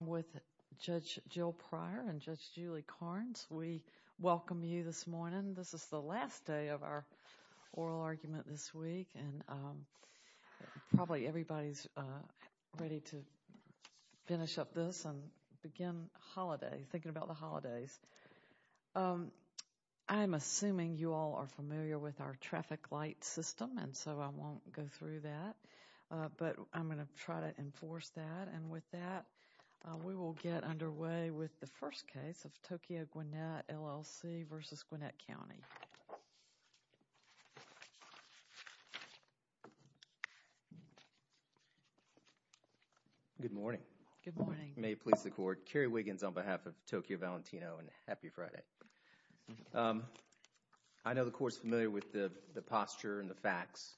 with Judge Jill Pryor and Judge Julie Carnes. We welcome you this morning. This is the last day of our oral argument this week and probably everybody's ready to finish up this and begin holiday thinking about the holidays. I'm assuming you all are familiar with our traffic light system and so I won't go through that but I'm going to try to enforce that and with that we will get underway with the first case of Tokyo Gwinnett, LLC v. Gwinnett County. Good morning. Good morning. May it please the court. Kerry Wiggins on behalf of Tokyo Valentino and happy Friday. I know the court's familiar with the posture and the facts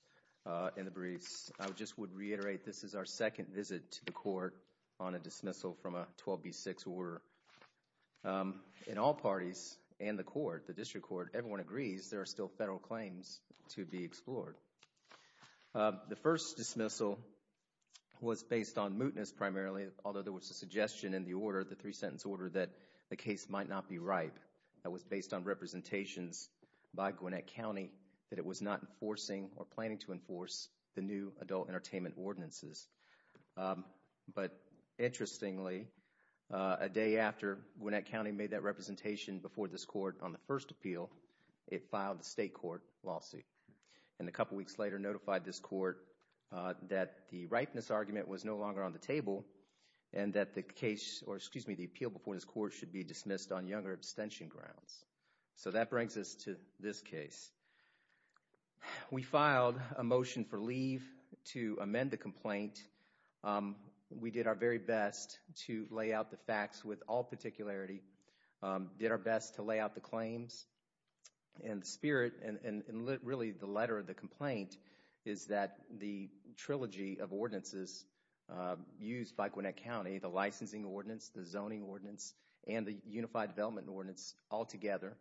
in the briefs. I just would reiterate this is our second visit to the court on a dismissal from a 12b6 order. In all parties and the court, the district court, everyone agrees there are still federal claims to be explored. The first dismissal was based on mootness primarily although there was a suggestion in the order, the three-sentence order, that the case might not be ripe. That was based on entertainment ordinances but interestingly a day after Gwinnett County made that representation before this court on the first appeal, it filed the state court lawsuit and a couple weeks later notified this court that the ripeness argument was no longer on the table and that the case or excuse me the appeal before this court should be dismissed on younger abstention grounds. So that brings us to this case. We filed a motion for leave to amend the complaint. We did our very best to lay out the facts with all particularity, did our best to lay out the claims and the spirit and really the letter of the complaint is that the trilogy of ordinances used by Gwinnett County, the licensing ordinance, the zoning ordinance, and the unified development ordinance all together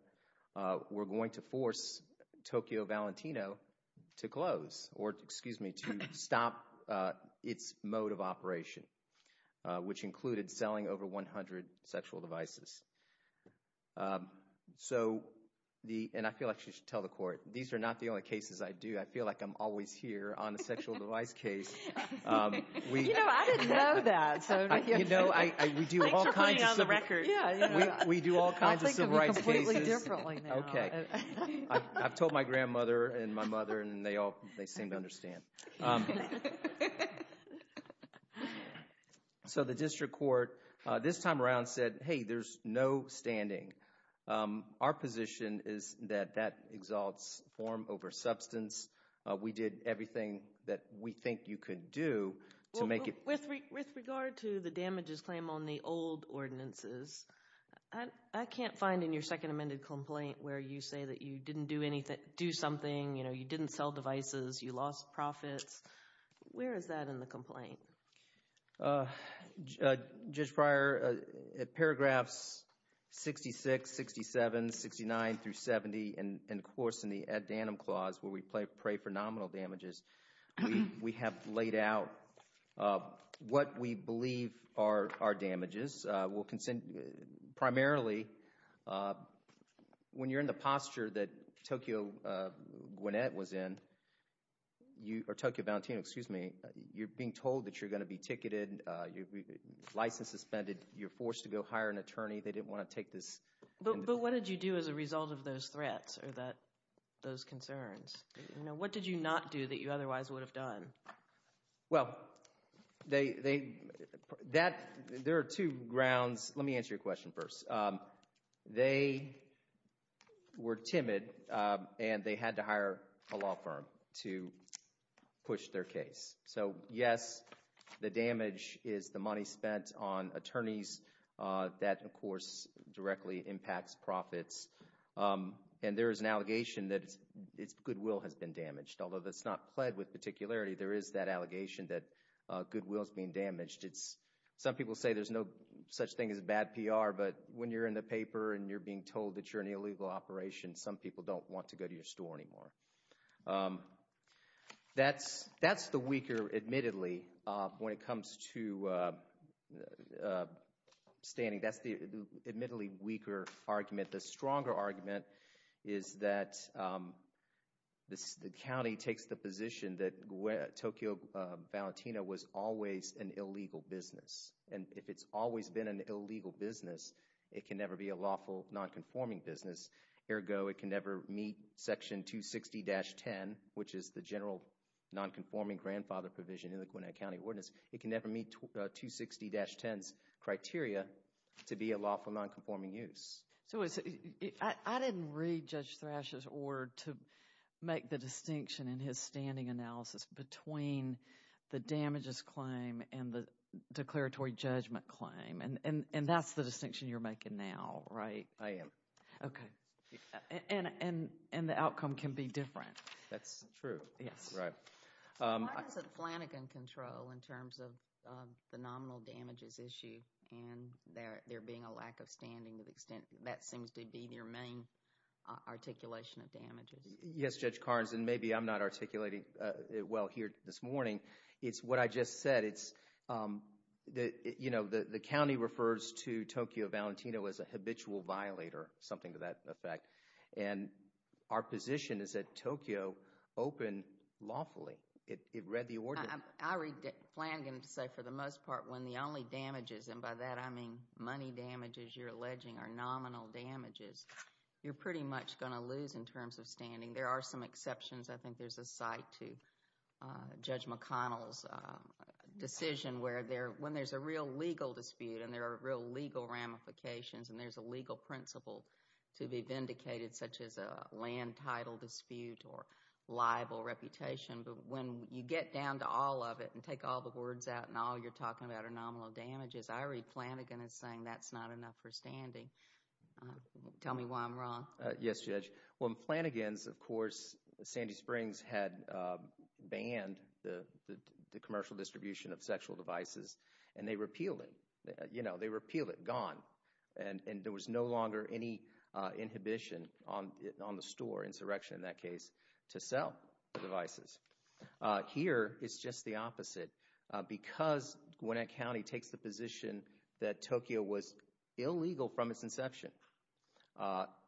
were going to force Tokyo Valentino to close or excuse me to stop its mode of operation which included selling over 100 sexual devices. So the and I feel like you should tell the court these are not the only cases I do. I feel like I'm always here on a sexual device case. You know I didn't know that. You know I we do all kinds of the record. We do all kinds of civil rights. Okay I've told my grandmother and my mother and they all they seem to understand. So the district court this time around said hey there's no standing. Our position is that that exalts form over substance. We did everything that we think you could do to make it. With regard to the damages claim on the old ordinances, I can't find in your second amended complaint where you say that you didn't do anything do something you know you didn't sell devices you lost profits. Where is that in the complaint? Just prior paragraphs 66, 67, 69 through 70 and of course in the ad danum clause where we play pray for nominal damages we have laid out what we believe are our damages will consent primarily when you're in the posture that Tokyo Gwinnett was in you or Tokyo Valentino excuse me you're being told that you're going to be ticketed you're licensed suspended you're forced to go hire an attorney they didn't want to take this. But what did you do as a result of those threats or that those concerns you know what did you not do that you otherwise would have done? Well they they that there are two grounds let me answer your question first. They were timid and they had to hire a law firm to push their case. So yes the damage is the money spent on attorneys that of course directly impacts profits and there is an allegation that it's goodwill has been damaged although that's not pled with particularity there is that allegation that goodwill is being damaged it's some people say there's no such thing as bad PR but when you're in the paper and you're being told that you're an illegal operation some people don't want to go to your store anymore. That's that's the weaker admittedly when it comes to standing that's the admittedly weaker argument the stronger argument is that this the county takes the position that Tokyo Valentino was always an illegal business and if it's always been an illegal business it can never be a lawful non-conforming business. Ergo it can never meet section 260-10 which is the general non-conforming grandfather provision in the Gwinnett County Ordinance it can never meet 260-10's criteria to be a lawful non-conforming use. So I didn't read Judge Thrash's order to make the distinction in his standing analysis between the damages claim and the declaratory judgment claim and and and that's the distinction you're making now right? I am. Okay and and and the outcome can be different. That's true yes right. Why doesn't Flanagan control in terms of the nominal damages issue and there there being a lack of standing to the extent that seems to be their main articulation of damages? Yes Judge Carnes and maybe I'm not articulating it well here this morning it's what I just said it's the you know the the county refers to Tokyo Valentino as a habitual violator something to affect and our position is that Tokyo opened lawfully it read the order. I read Flanagan to say for the most part when the only damages and by that I mean money damages you're alleging are nominal damages you're pretty much going to lose in terms of standing there are some exceptions I think there's a site to Judge McConnell's decision where there when there's a real legal dispute and there are real legal ramifications and there's a legal principle to be vindicated such as a land title dispute or liable reputation but when you get down to all of it and take all the words out and all you're talking about are nominal damages I read Flanagan as saying that's not enough for standing. Tell me why I'm wrong. Yes Judge when Flanagan's of course Sandy Springs had banned the the commercial distribution of sexual devices and they repealed it you know they repealed it gone and and there was no longer any inhibition on it on the store insurrection in that case to sell the devices. Here it's just the opposite because Gwinnett County takes the position that Tokyo was illegal from its inception.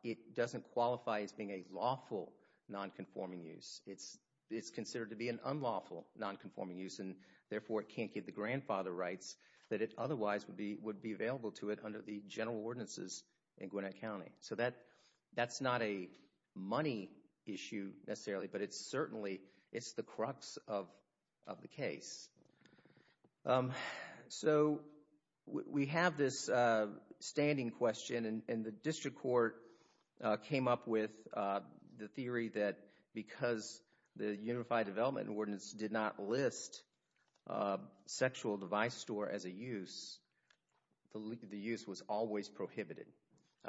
It doesn't qualify as being a lawful non-conforming use it's it's considered to be an unlawful non-conforming use and therefore it can't give the grandfather rights that it otherwise would be would be available to it under the general ordinances in Gwinnett County. So that that's not a money issue necessarily but it's certainly it's the crux of of the case. So we have this standing question and the district court came up with the theory that because the unified development ordinance did not list a sexual device store as a use the use was always prohibited.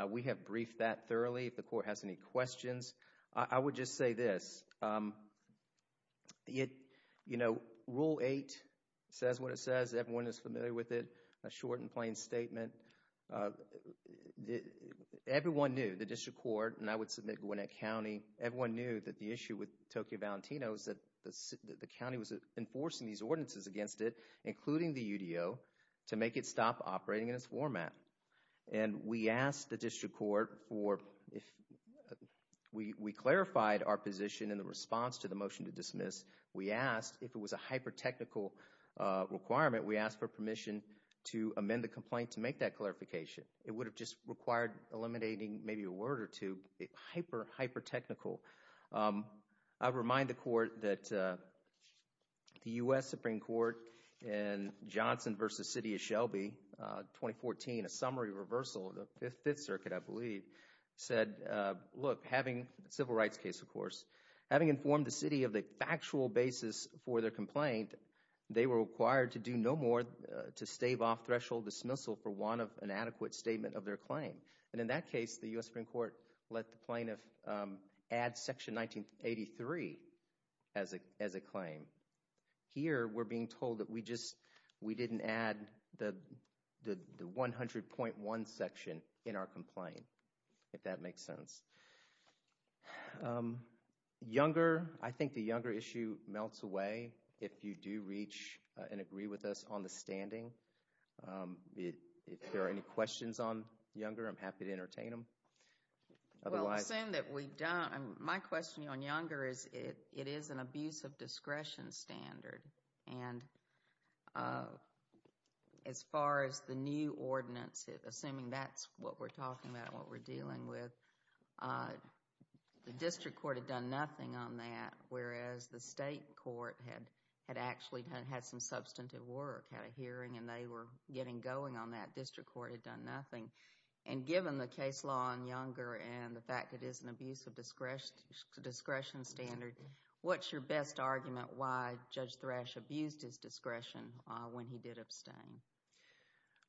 We have briefed that thoroughly if the court has any questions. I would just say this it you know rule eight says what it says everyone is familiar with it a short and plain statement. Everyone knew the district court and I would submit Gwinnett County everyone knew that the issue with Tokyo Valentino is that the the county was enforcing these ordinances against it including the UDO to make it stop operating in its format and we asked the district court for if we we clarified our position in the response to the motion to dismiss we asked if it was a clarification. It would have just required eliminating maybe a word or two hyper hyper technical. I remind the court that the U.S. Supreme Court and Johnson versus city of Shelby 2014 a summary reversal of the Fifth Circuit I believe said look having civil rights case of course having informed the city of the factual basis for their complaint they were required to do no more to stave off threshold dismissal for one of an adequate statement of their claim and in that case the U.S. Supreme Court let the plaintiff add section 1983 as a as a claim. Here we're being told that we just we didn't add the the 100.1 section in our complaint if that makes sense. Younger I think the younger issue melts away if you do reach and agree with us on the standing. If there are any questions on younger I'm happy to entertain them. Well saying that we don't my question on younger is it it is an abuse of discretion standard and uh as far as the new ordinance assuming that's what we're talking about what we're dealing with uh the district court had done nothing on that whereas the state court had had actually had some substantive work had a hearing and they were getting going on that district court had done nothing and given the case law on younger and the fact it is an abuse of discretion discretion what's your best argument why judge thrash abused his discretion when he did abstain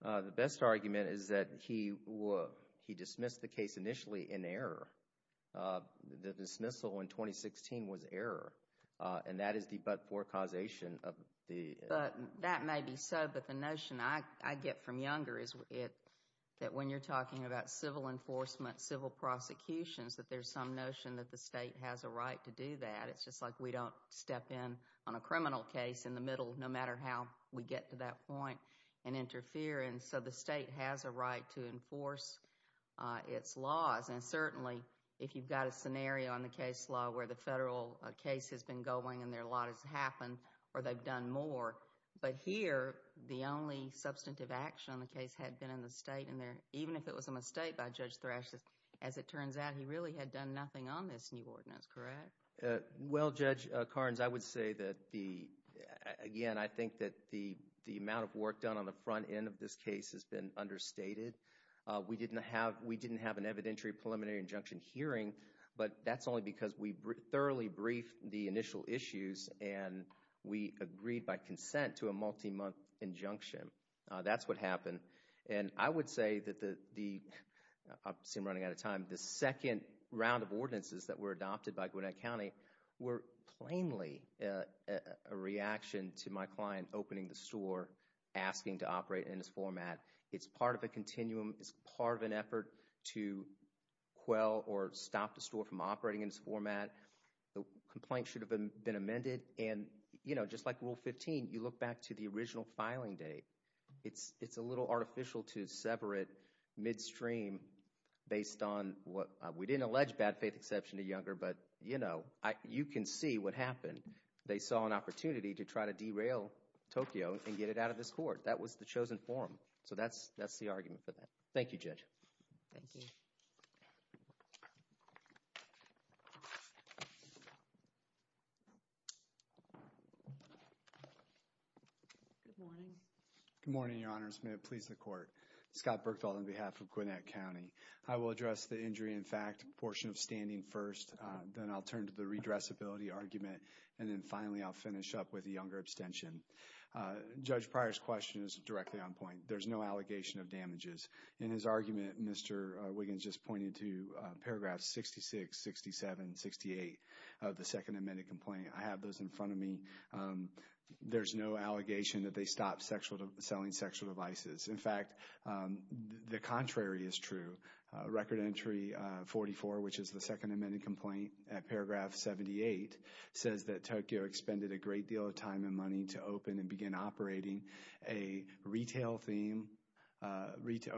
the best argument is that he he dismissed the case initially in error the dismissal in 2016 was error and that is the but for causation of the but that may be so but the notion I get from younger is it that when you're talking about civil enforcement civil prosecutions that there's some notion that the state has a right to do that it's just like we don't step in on a criminal case in the middle no matter how we get to that point and interfere and so the state has a right to enforce uh its laws and certainly if you've got a scenario on the case law where the federal case has been going and their lot has happened or they've done more but here the only substantive action on the case had been in the state and there even if it was a judge thrashes as it turns out he really had done nothing on this new ordinance correct well judge karns i would say that the again i think that the the amount of work done on the front end of this case has been understated uh we didn't have we didn't have an evidentiary preliminary injunction hearing but that's only because we thoroughly briefed the initial issues and we agreed by consent to a multi-month injunction that's what happened and i would say that the the i've seen running out of time the second round of ordinances that were adopted by gwinnett county were plainly a reaction to my client opening the store asking to operate in this format it's part of a continuum it's part of an effort to quell or stop the store from operating in this format the complaint should have been amended and you know just like rule 15 you look back to the original filing date it's it's a little artificial to separate midstream based on what we didn't allege bad faith exception to younger but you know i you can see what happened they saw an opportunity to try to derail tokyo and get it out of this court that was the chosen so that's that's the argument for that thank you judge thank you good morning good morning your honors may it please the court scott berkdahl on behalf of gwinnett county i will address the injury in fact portion of standing first then i'll turn to the redressability argument and then finally i'll finish up with the younger abstention uh judge prior's question is directly on point there's no allegation of damages in his argument mr wiggins just pointed to paragraph 66 67 68 of the second amended complaint i have those in front of me there's no allegation that they stopped sexual selling sexual devices in fact the contrary is true record entry 44 which is the second amended complaint at paragraph 78 says that tokyo expended a great deal of time and money to open and begin operating a retail theme uh retail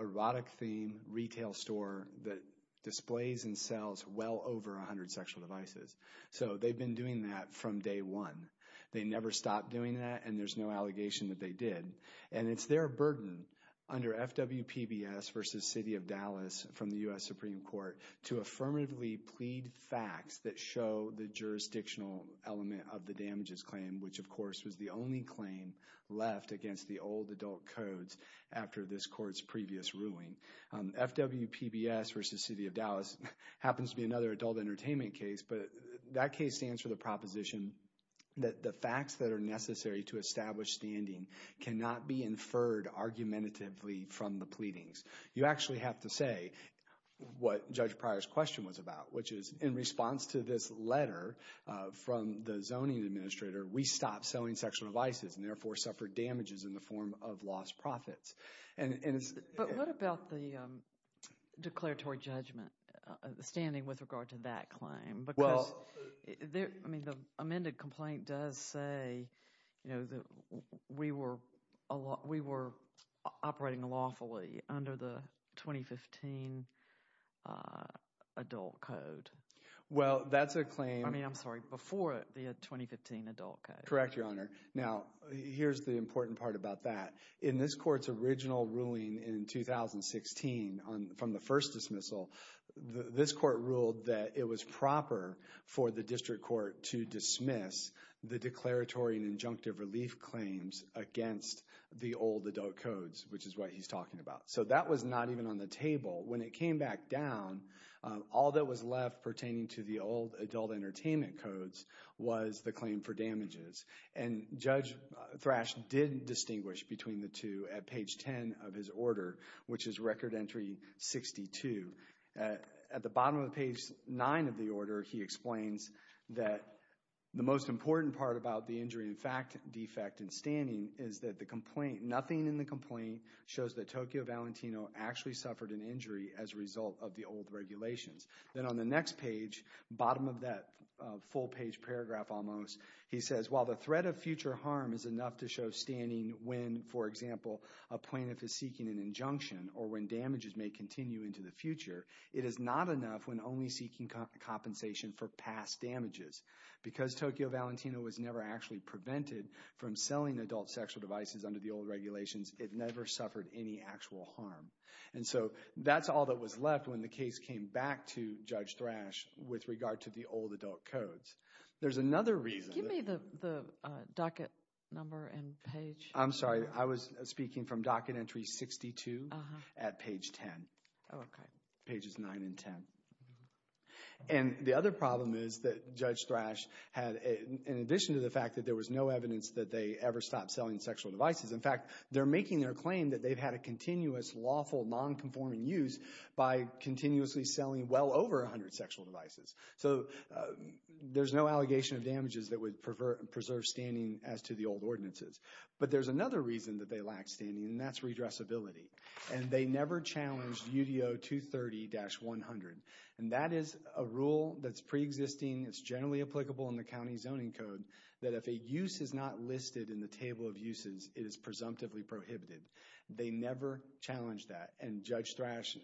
erotic theme retail store that displays and sells well over 100 sexual devices so they've been doing that from day one they never stopped doing that and there's no allegation that they did and it's their burden under fw pbs versus city of dallas from the u.s supreme court to affirmatively plead facts that show the jurisdictional element of the damages claim which of course was the only claim left against the old adult codes after this court's previous ruling fw pbs versus city of dallas happens to be another adult entertainment case but that case stands for the proposition that the facts that are necessary to establish standing cannot be inferred argumentatively from the pleadings you actually have to say what judge prior's question was about which is in response to this letter uh from the zoning administrator we stopped selling sexual devices and therefore suffered damages in the form of lost profits and but what about the um declaratory judgment standing with regard to that claim because there i mean the amended complaint does say you know that we were a lot we were operating lawfully under the 2015 uh adult code well that's a claim i mean i'm sorry before the 2015 adult correct your honor now here's the important part about that in this court's original ruling in 2016 on from the first dismissal this court ruled that it was proper for the district court to dismiss the declaratory and injunctive relief claims against the old adult codes which is what he's talking about so that was not even on the table when it came back down all that was left pertaining to the old adult entertainment codes was the claim for damages and judge thrash didn't distinguish between the two at page 10 of his order which is record entry 62 at the bottom of page 9 of the order he explains that the most important part about the injury in fact defect in standing is that the complaint nothing in the complaint shows that tokyo valentino actually suffered an injury as a result of the old regulations then on the next page bottom of that full page paragraph almost he says while the threat of future harm is enough to show standing when for example a plaintiff is seeking an injunction or when damages may continue into the future it is not enough when only seeking compensation for past damages because tokyo valentino was never actually prevented from it never suffered any actual harm and so that's all that was left when the case came back to judge thrash with regard to the old adult codes there's another reason give me the the docket number and page i'm sorry i was speaking from docket entry 62 at page 10 okay pages 9 and 10 and the other problem is that judge thrash had in addition to the fact that there was no evidence that they ever stopped selling sexual devices in fact they're making their claim that they've had a continuous lawful non-conforming use by continuously selling well over 100 sexual devices so there's no allegation of damages that would prefer preserve standing as to the old ordinances but there's another reason that they lack standing and that's redressability and they never challenged udo 230-100 and that is a rule that's pre-existing it's generally applicable in the county zoning code that if a use is not listed in the table of uses it is presumptively prohibited they never challenged that and judge thrash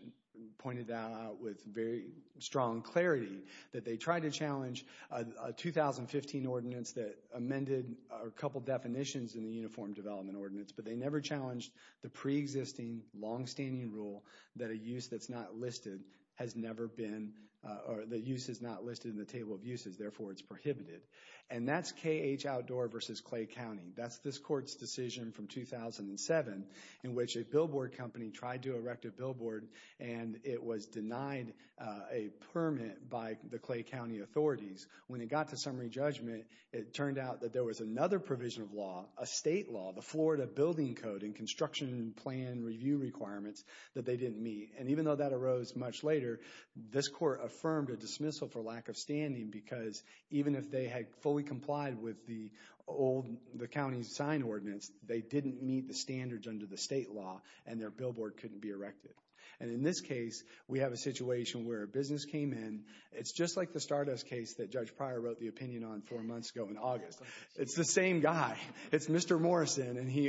pointed that out with very strong clarity that they tried to challenge a 2015 ordinance that amended a couple definitions in the uniform development ordinance but they never challenged the pre-existing long-standing rule that a use that's not listed has never been or the use is not listed in the table of uses therefore it's prohibited and that's kh outdoor versus clay county that's this court's decision from 2007 in which a billboard company tried to erect a billboard and it was denied a permit by the clay county authorities when it got to summary judgment it turned out that there was another provision of law a state law the florida building code and construction plan review requirements that they didn't meet and even though that arose much later this court affirmed a dismissal for lack of standing because even if they had fully complied with the old the county's sign ordinance they didn't meet the standards under the state law and their billboard couldn't be erected and in this case we have a situation where a business came in it's just like the stardust case that judge prior wrote the opinion on four months ago in august it's the same guy it's mr morrison and he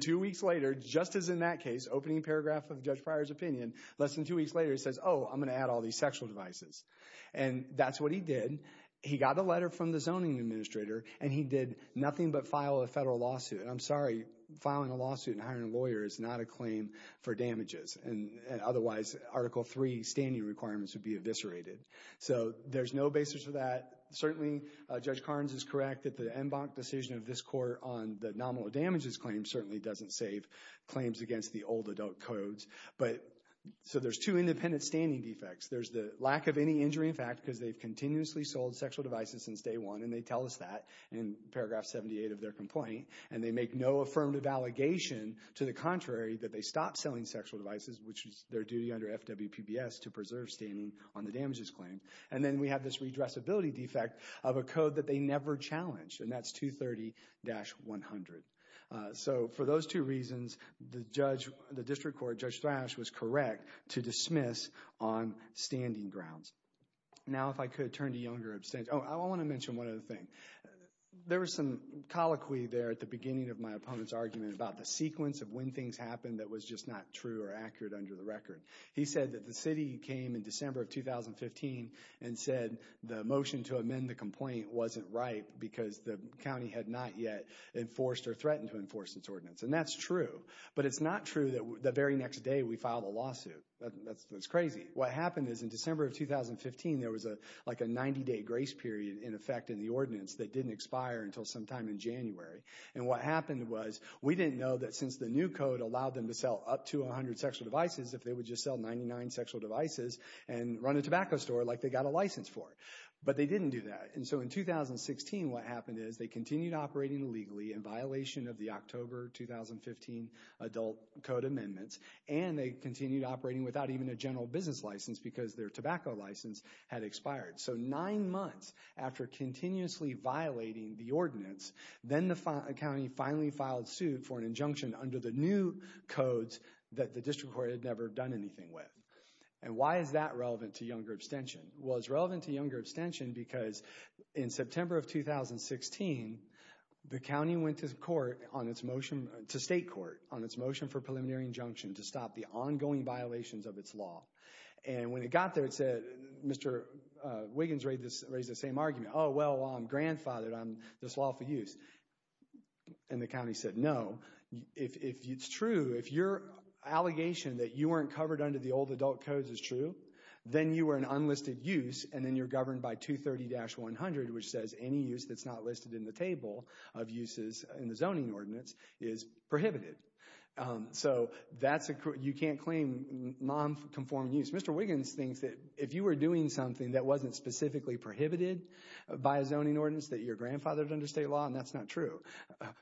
two weeks later just as in that case opening paragraph of judge prior's opinion less than two weeks later he says oh i'm going to add all these sexual devices and that's what he did he got a letter from the zoning administrator and he did nothing but file a federal lawsuit i'm sorry filing a lawsuit and hiring a lawyer is not a claim for damages and otherwise article three standing requirements would be eviscerated so there's no basis for that certainly uh judge doesn't save claims against the old adult codes but so there's two independent standing defects there's the lack of any injury in fact because they've continuously sold sexual devices since day one and they tell us that in paragraph 78 of their complaint and they make no affirmative allegation to the contrary that they stop selling sexual devices which is their duty under fwpbs to preserve standing on the damages claim and then we have this redressability defect of a code that dash 100 so for those two reasons the judge the district court judge thrash was correct to dismiss on standing grounds now if i could turn to younger abstentions oh i want to mention one other thing there was some colloquy there at the beginning of my opponent's argument about the sequence of when things happened that was just not true or accurate under the record he said that the city came in december of 2015 and said the motion to amend the complaint wasn't right because the county had not yet enforced or threatened to enforce this ordinance and that's true but it's not true that the very next day we filed a lawsuit that's crazy what happened is in december of 2015 there was a like a 90-day grace period in effect in the ordinance that didn't expire until sometime in january and what happened was we didn't know that since the new code allowed them to sell up to 100 sexual devices if they would just sell 99 sexual devices and run a what happened is they continued operating illegally in violation of the october 2015 adult code amendments and they continued operating without even a general business license because their tobacco license had expired so nine months after continuously violating the ordinance then the county finally filed suit for an injunction under the new codes that the district court had never done anything with and why is that relevant to younger extension because in september of 2016 the county went to court on its motion to state court on its motion for preliminary injunction to stop the ongoing violations of its law and when it got there it said mr uh wiggins raised this raised the same argument oh well i'm grandfathered on this lawful use and the county said no if it's true if your allegation that you weren't covered under the old adult codes is true then you were an unlisted use and then you're governed by 230-100 which says any use that's not listed in the table of uses in the zoning ordinance is prohibited so that's a you can't claim non-conforming use mr wiggins thinks that if you were doing something that wasn't specifically prohibited by a zoning ordinance that your grandfathered under state law and that's not true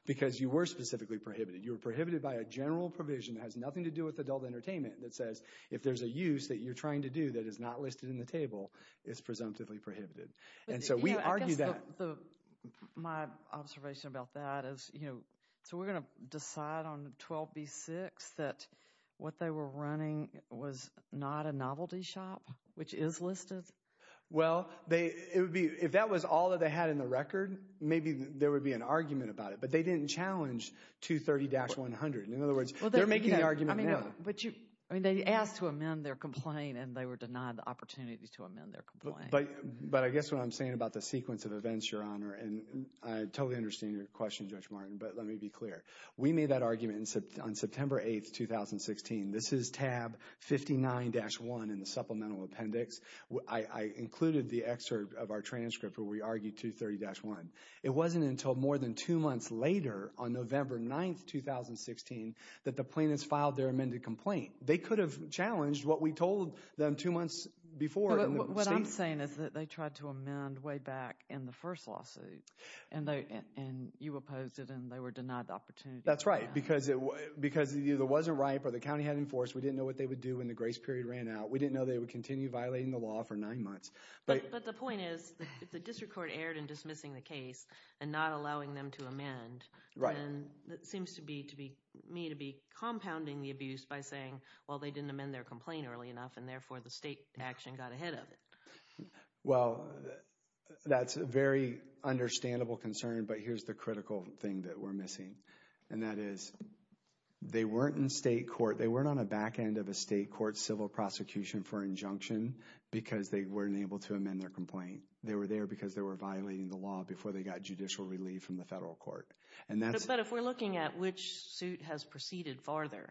because you were specifically prohibited you were prohibited by a general provision that has nothing to do with adult entertainment that says if there's a use that you're trying to do that is not listed in the table it's presumptively prohibited and so we argue that the my observation about that is you know so we're going to decide on 12b6 that what they were running was not a novelty shop which is listed well they it would be if that was all that they had in the record maybe there would be an argument about it but they didn't challenge 230-100 in other words well they're making the argument but you i mean they asked to amend their complaint and they were denied the opportunity to amend their complaint but but i guess what i'm saying about the sequence of events your honor and i totally understand your question judge martin but let me be clear we made that argument in sept on september 8th 2016 this is tab 59-1 in the supplemental appendix i i included the excerpt of our on november 9th 2016 that the plaintiffs filed their amended complaint they could have challenged what we told them two months before what i'm saying is that they tried to amend way back in the first lawsuit and they and you opposed it and they were denied the opportunity that's right because it was because it either wasn't ripe or the county had enforced we didn't know what they would do when the grace period ran out we didn't know they would continue violating the law for nine months but but the point is the district court erred in dismissing the case and not allowing them to amend right and that seems to be to be me to be compounding the abuse by saying well they didn't amend their complaint early enough and therefore the state action got ahead of it well that's a very understandable concern but here's the critical thing that we're missing and that is they weren't in state court they weren't on a back end of a state court civil prosecution for injunction because they weren't able to amend their complaint they were there because they were violating the law before they got judicial relief from the federal court and that's but if we're looking at which suit has proceeded farther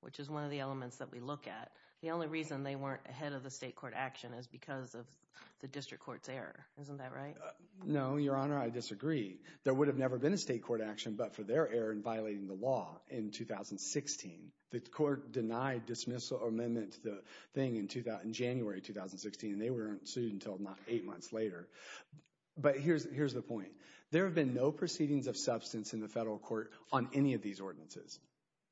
which is one of the elements that we look at the only reason they weren't ahead of the state court action is because of the district court's error isn't that right no your honor i disagree there would have never been a state court action but for their error in violating the law in 2016 the court denied dismissal amendment to the thing in 2000 january 2016 and they weren't sued until not eight months later but here's here's the point there have been no proceedings of substance in the federal court on any of these ordinances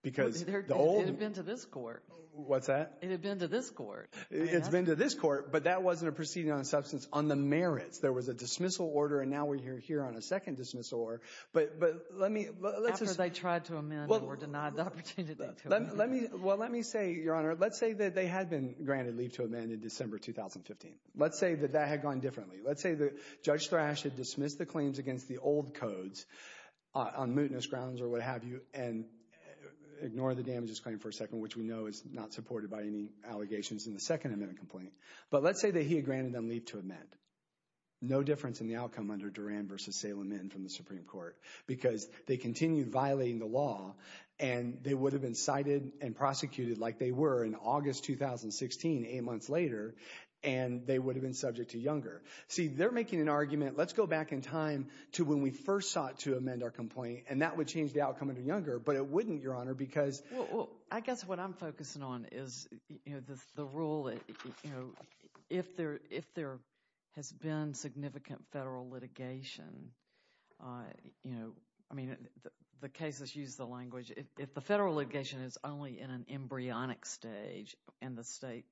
because it had been to this court what's that it had been to this court it's been to this court but that wasn't a proceeding on substance on the merits there was a dismissal order and now we're here here on a second dismissal or but but let me let's just i tried to amend or denied the opportunity let me well let me say your honor let's say that they had gone differently let's say the judge thrash had dismissed the claims against the old codes on mootness grounds or what have you and ignore the damages claim for a second which we know is not supported by any allegations in the second amendment complaint but let's say that he had granted them leave to amend no difference in the outcome under duran versus salem in from the supreme court because they continued violating the law and they would have been cited and prosecuted like they were in august 2016 eight months later and they would have been subject to younger see they're making an argument let's go back in time to when we first sought to amend our complaint and that would change the outcome of younger but it wouldn't your honor because well i guess what i'm focusing on is you know the rule that you know if there if there has been significant federal litigation uh you know i mean the cases use the language if the federal litigation is only in an embryonic stage and the state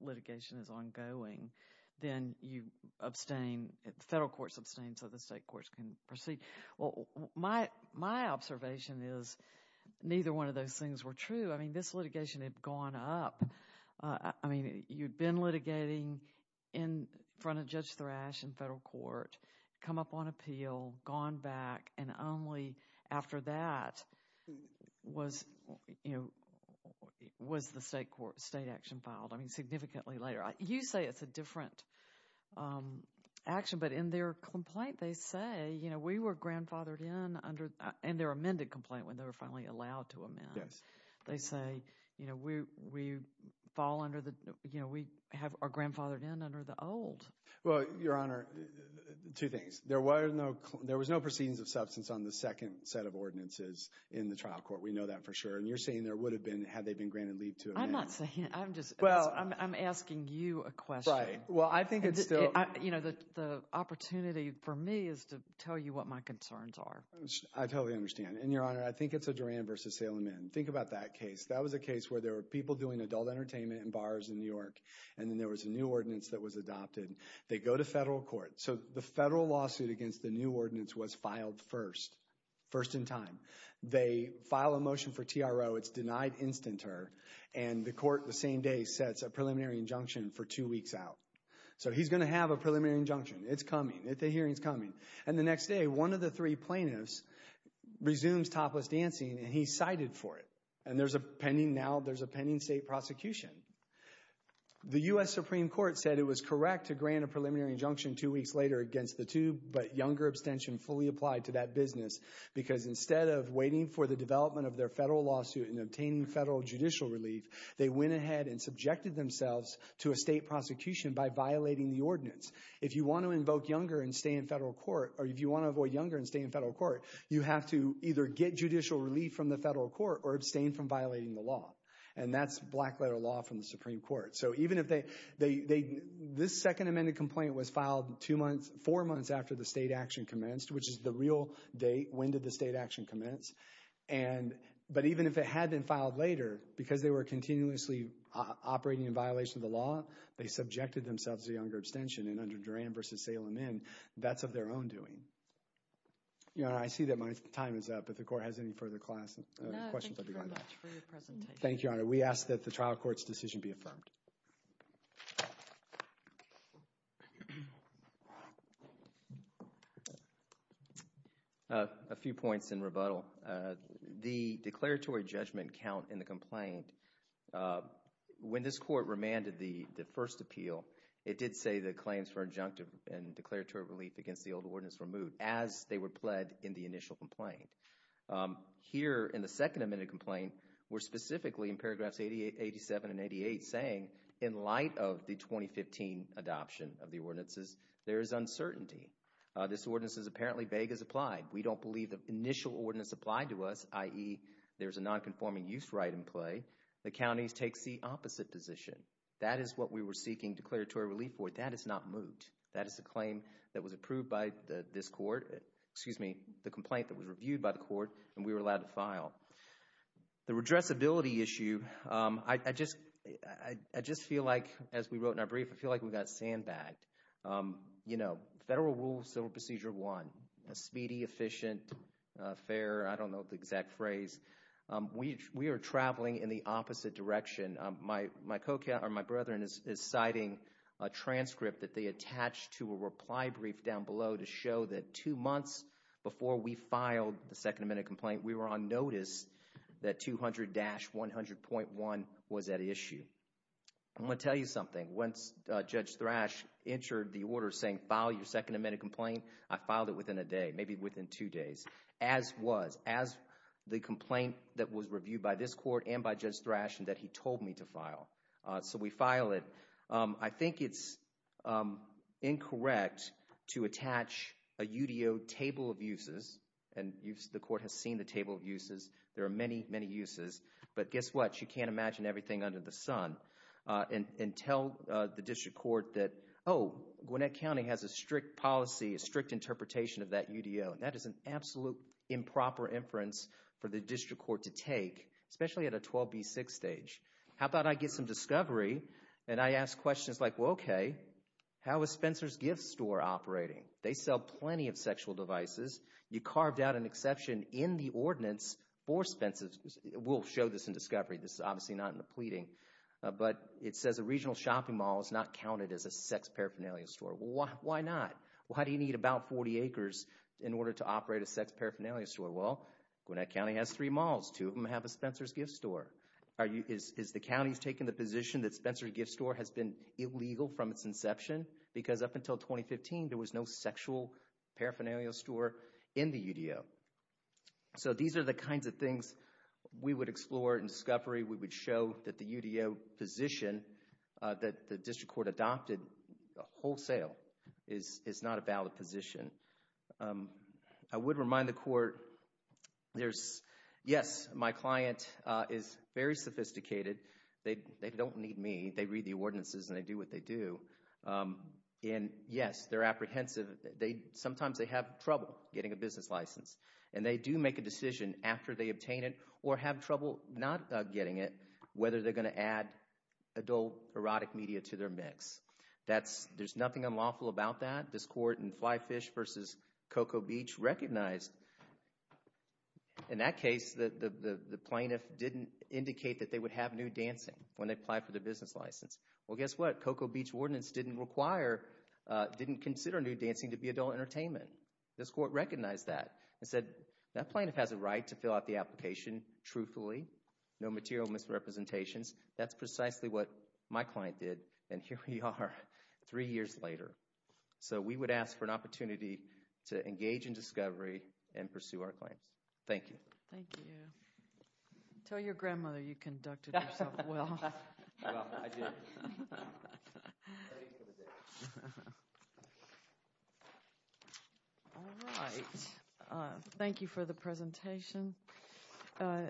litigation is ongoing then you abstain federal courts abstain so the state courts can proceed well my my observation is neither one of those things were true i mean this litigation had gone up i mean you'd been litigating in front of judge was the state court state action filed i mean significantly later you say it's a different um action but in their complaint they say you know we were grandfathered in under and their amended complaint when they were finally allowed to amend yes they say you know we we fall under the you know we have our grandfathered in under the old well your honor two things there were no there was no proceedings of substance on the second set of ordinances in the trial court we know that and you're saying there would have been had they been granted leave to amend i'm not saying i'm just well i'm asking you a question right well i think it's still you know the the opportunity for me is to tell you what my concerns are i totally understand and your honor i think it's a duran versus salem in think about that case that was a case where there were people doing adult entertainment and bars in new york and then there was a new ordinance that was adopted they go to federal court so the federal lawsuit against the new ordinance was filed first first in time they file a motion for tro it's denied instanter and the court the same day sets a preliminary injunction for two weeks out so he's going to have a preliminary injunction it's coming at the hearings coming and the next day one of the three plaintiffs resumes topless dancing and he's cited for it and there's a pending now there's a pending state prosecution the u.s supreme court said it was correct to grant a preliminary injunction two weeks later against the tube but younger abstention fully applied to that business because instead of waiting for the development of their federal lawsuit and obtaining federal judicial relief they went ahead and subjected themselves to a state prosecution by violating the ordinance if you want to invoke younger and stay in federal court or if you want to avoid younger and stay in federal court you have to either get judicial relief from the federal court or abstain from violating the law and that's black letter law from the supreme court so even if they they this second amended complaint was filed two months four months after the state action commenced which is the real date when did the state action commence and but even if it had been filed later because they were continuously operating in violation of the law they subjected themselves to younger abstention and under duran versus salem in that's of their own doing you know i see that my time is up if the court has any further class questions thank you honor we ask that the trial court's decision be affirmed a few points in rebuttal the declaratory judgment count in the complaint when this court remanded the the first appeal it did say the claims for injunctive and declaratory relief against the old ordinance removed as they were pled in the initial complaint here in the second amended complaint were specifically in paragraphs 88 87 and 88 saying in light of the 2015 adoption of the ordinances there is uncertainty this ordinance is apparently vague as applied we don't believe the initial ordinance applied to us i.e. there's a non-conforming use right in play the counties takes the opposite position that is what we were seeking declaratory relief for that is not moved that is a claim that was approved by the this excuse me the complaint that was reviewed by the court and we were allowed to file the redressability issue um i i just i i just feel like as we wrote in our brief i feel like we got sandbagged um you know federal rules civil procedure one a speedy efficient uh fair i don't know the exact phrase um we we are traveling in the opposite direction my my co-captain or my down below to show that two months before we filed the second amendment complaint we were on notice that 200-100.1 was at issue i'm going to tell you something once judge thrash entered the order saying file your second amendment complaint i filed it within a day maybe within two days as was as the complaint that was reviewed by this court and by judge thrash and that he told me to to attach a udo table of uses and you've the court has seen the table of uses there are many many uses but guess what you can't imagine everything under the sun uh and and tell uh the district court that oh guanette county has a strict policy a strict interpretation of that udo and that is an absolute improper inference for the district court to take especially at a 12b6 stage how about i get some they sell plenty of sexual devices you carved out an exception in the ordinance for expenses we'll show this in discovery this is obviously not in the pleading but it says a regional shopping mall is not counted as a sex paraphernalia store why why not why do you need about 40 acres in order to operate a sex paraphernalia store well guanette county has three malls two of them have a spencer's gift store are you is is the county's taking the position that spencer gift store has been illegal from its inception because up until 2015 there was no sexual paraphernalia store in the udo so these are the kinds of things we would explore in discovery we would show that the udo position uh that the district court adopted wholesale is is not a valid position um i would remind the court there's yes my client uh is very sophisticated they they don't need me they read the ordinances and they do what they do um and yes they're apprehensive they sometimes they have trouble getting a business license and they do make a decision after they obtain it or have trouble not getting it whether they're going to add adult erotic media to their mix that's there's nothing unlawful about that this court and fly fish versus coco beach recognized in that case the the plaintiff didn't indicate that they would have new dancing when they applied for the business license well guess what coco beach ordinance didn't require uh didn't consider new dancing to be adult entertainment this court recognized that and said that plaintiff has a right to fill out the application truthfully no material misrepresentations that's precisely what my client did and here we are three years later so we would ask for an opportunity to engage in discovery and pursue our claims thank you thank you tell your grandmother you conducted well i did all right uh thank you for the presentation uh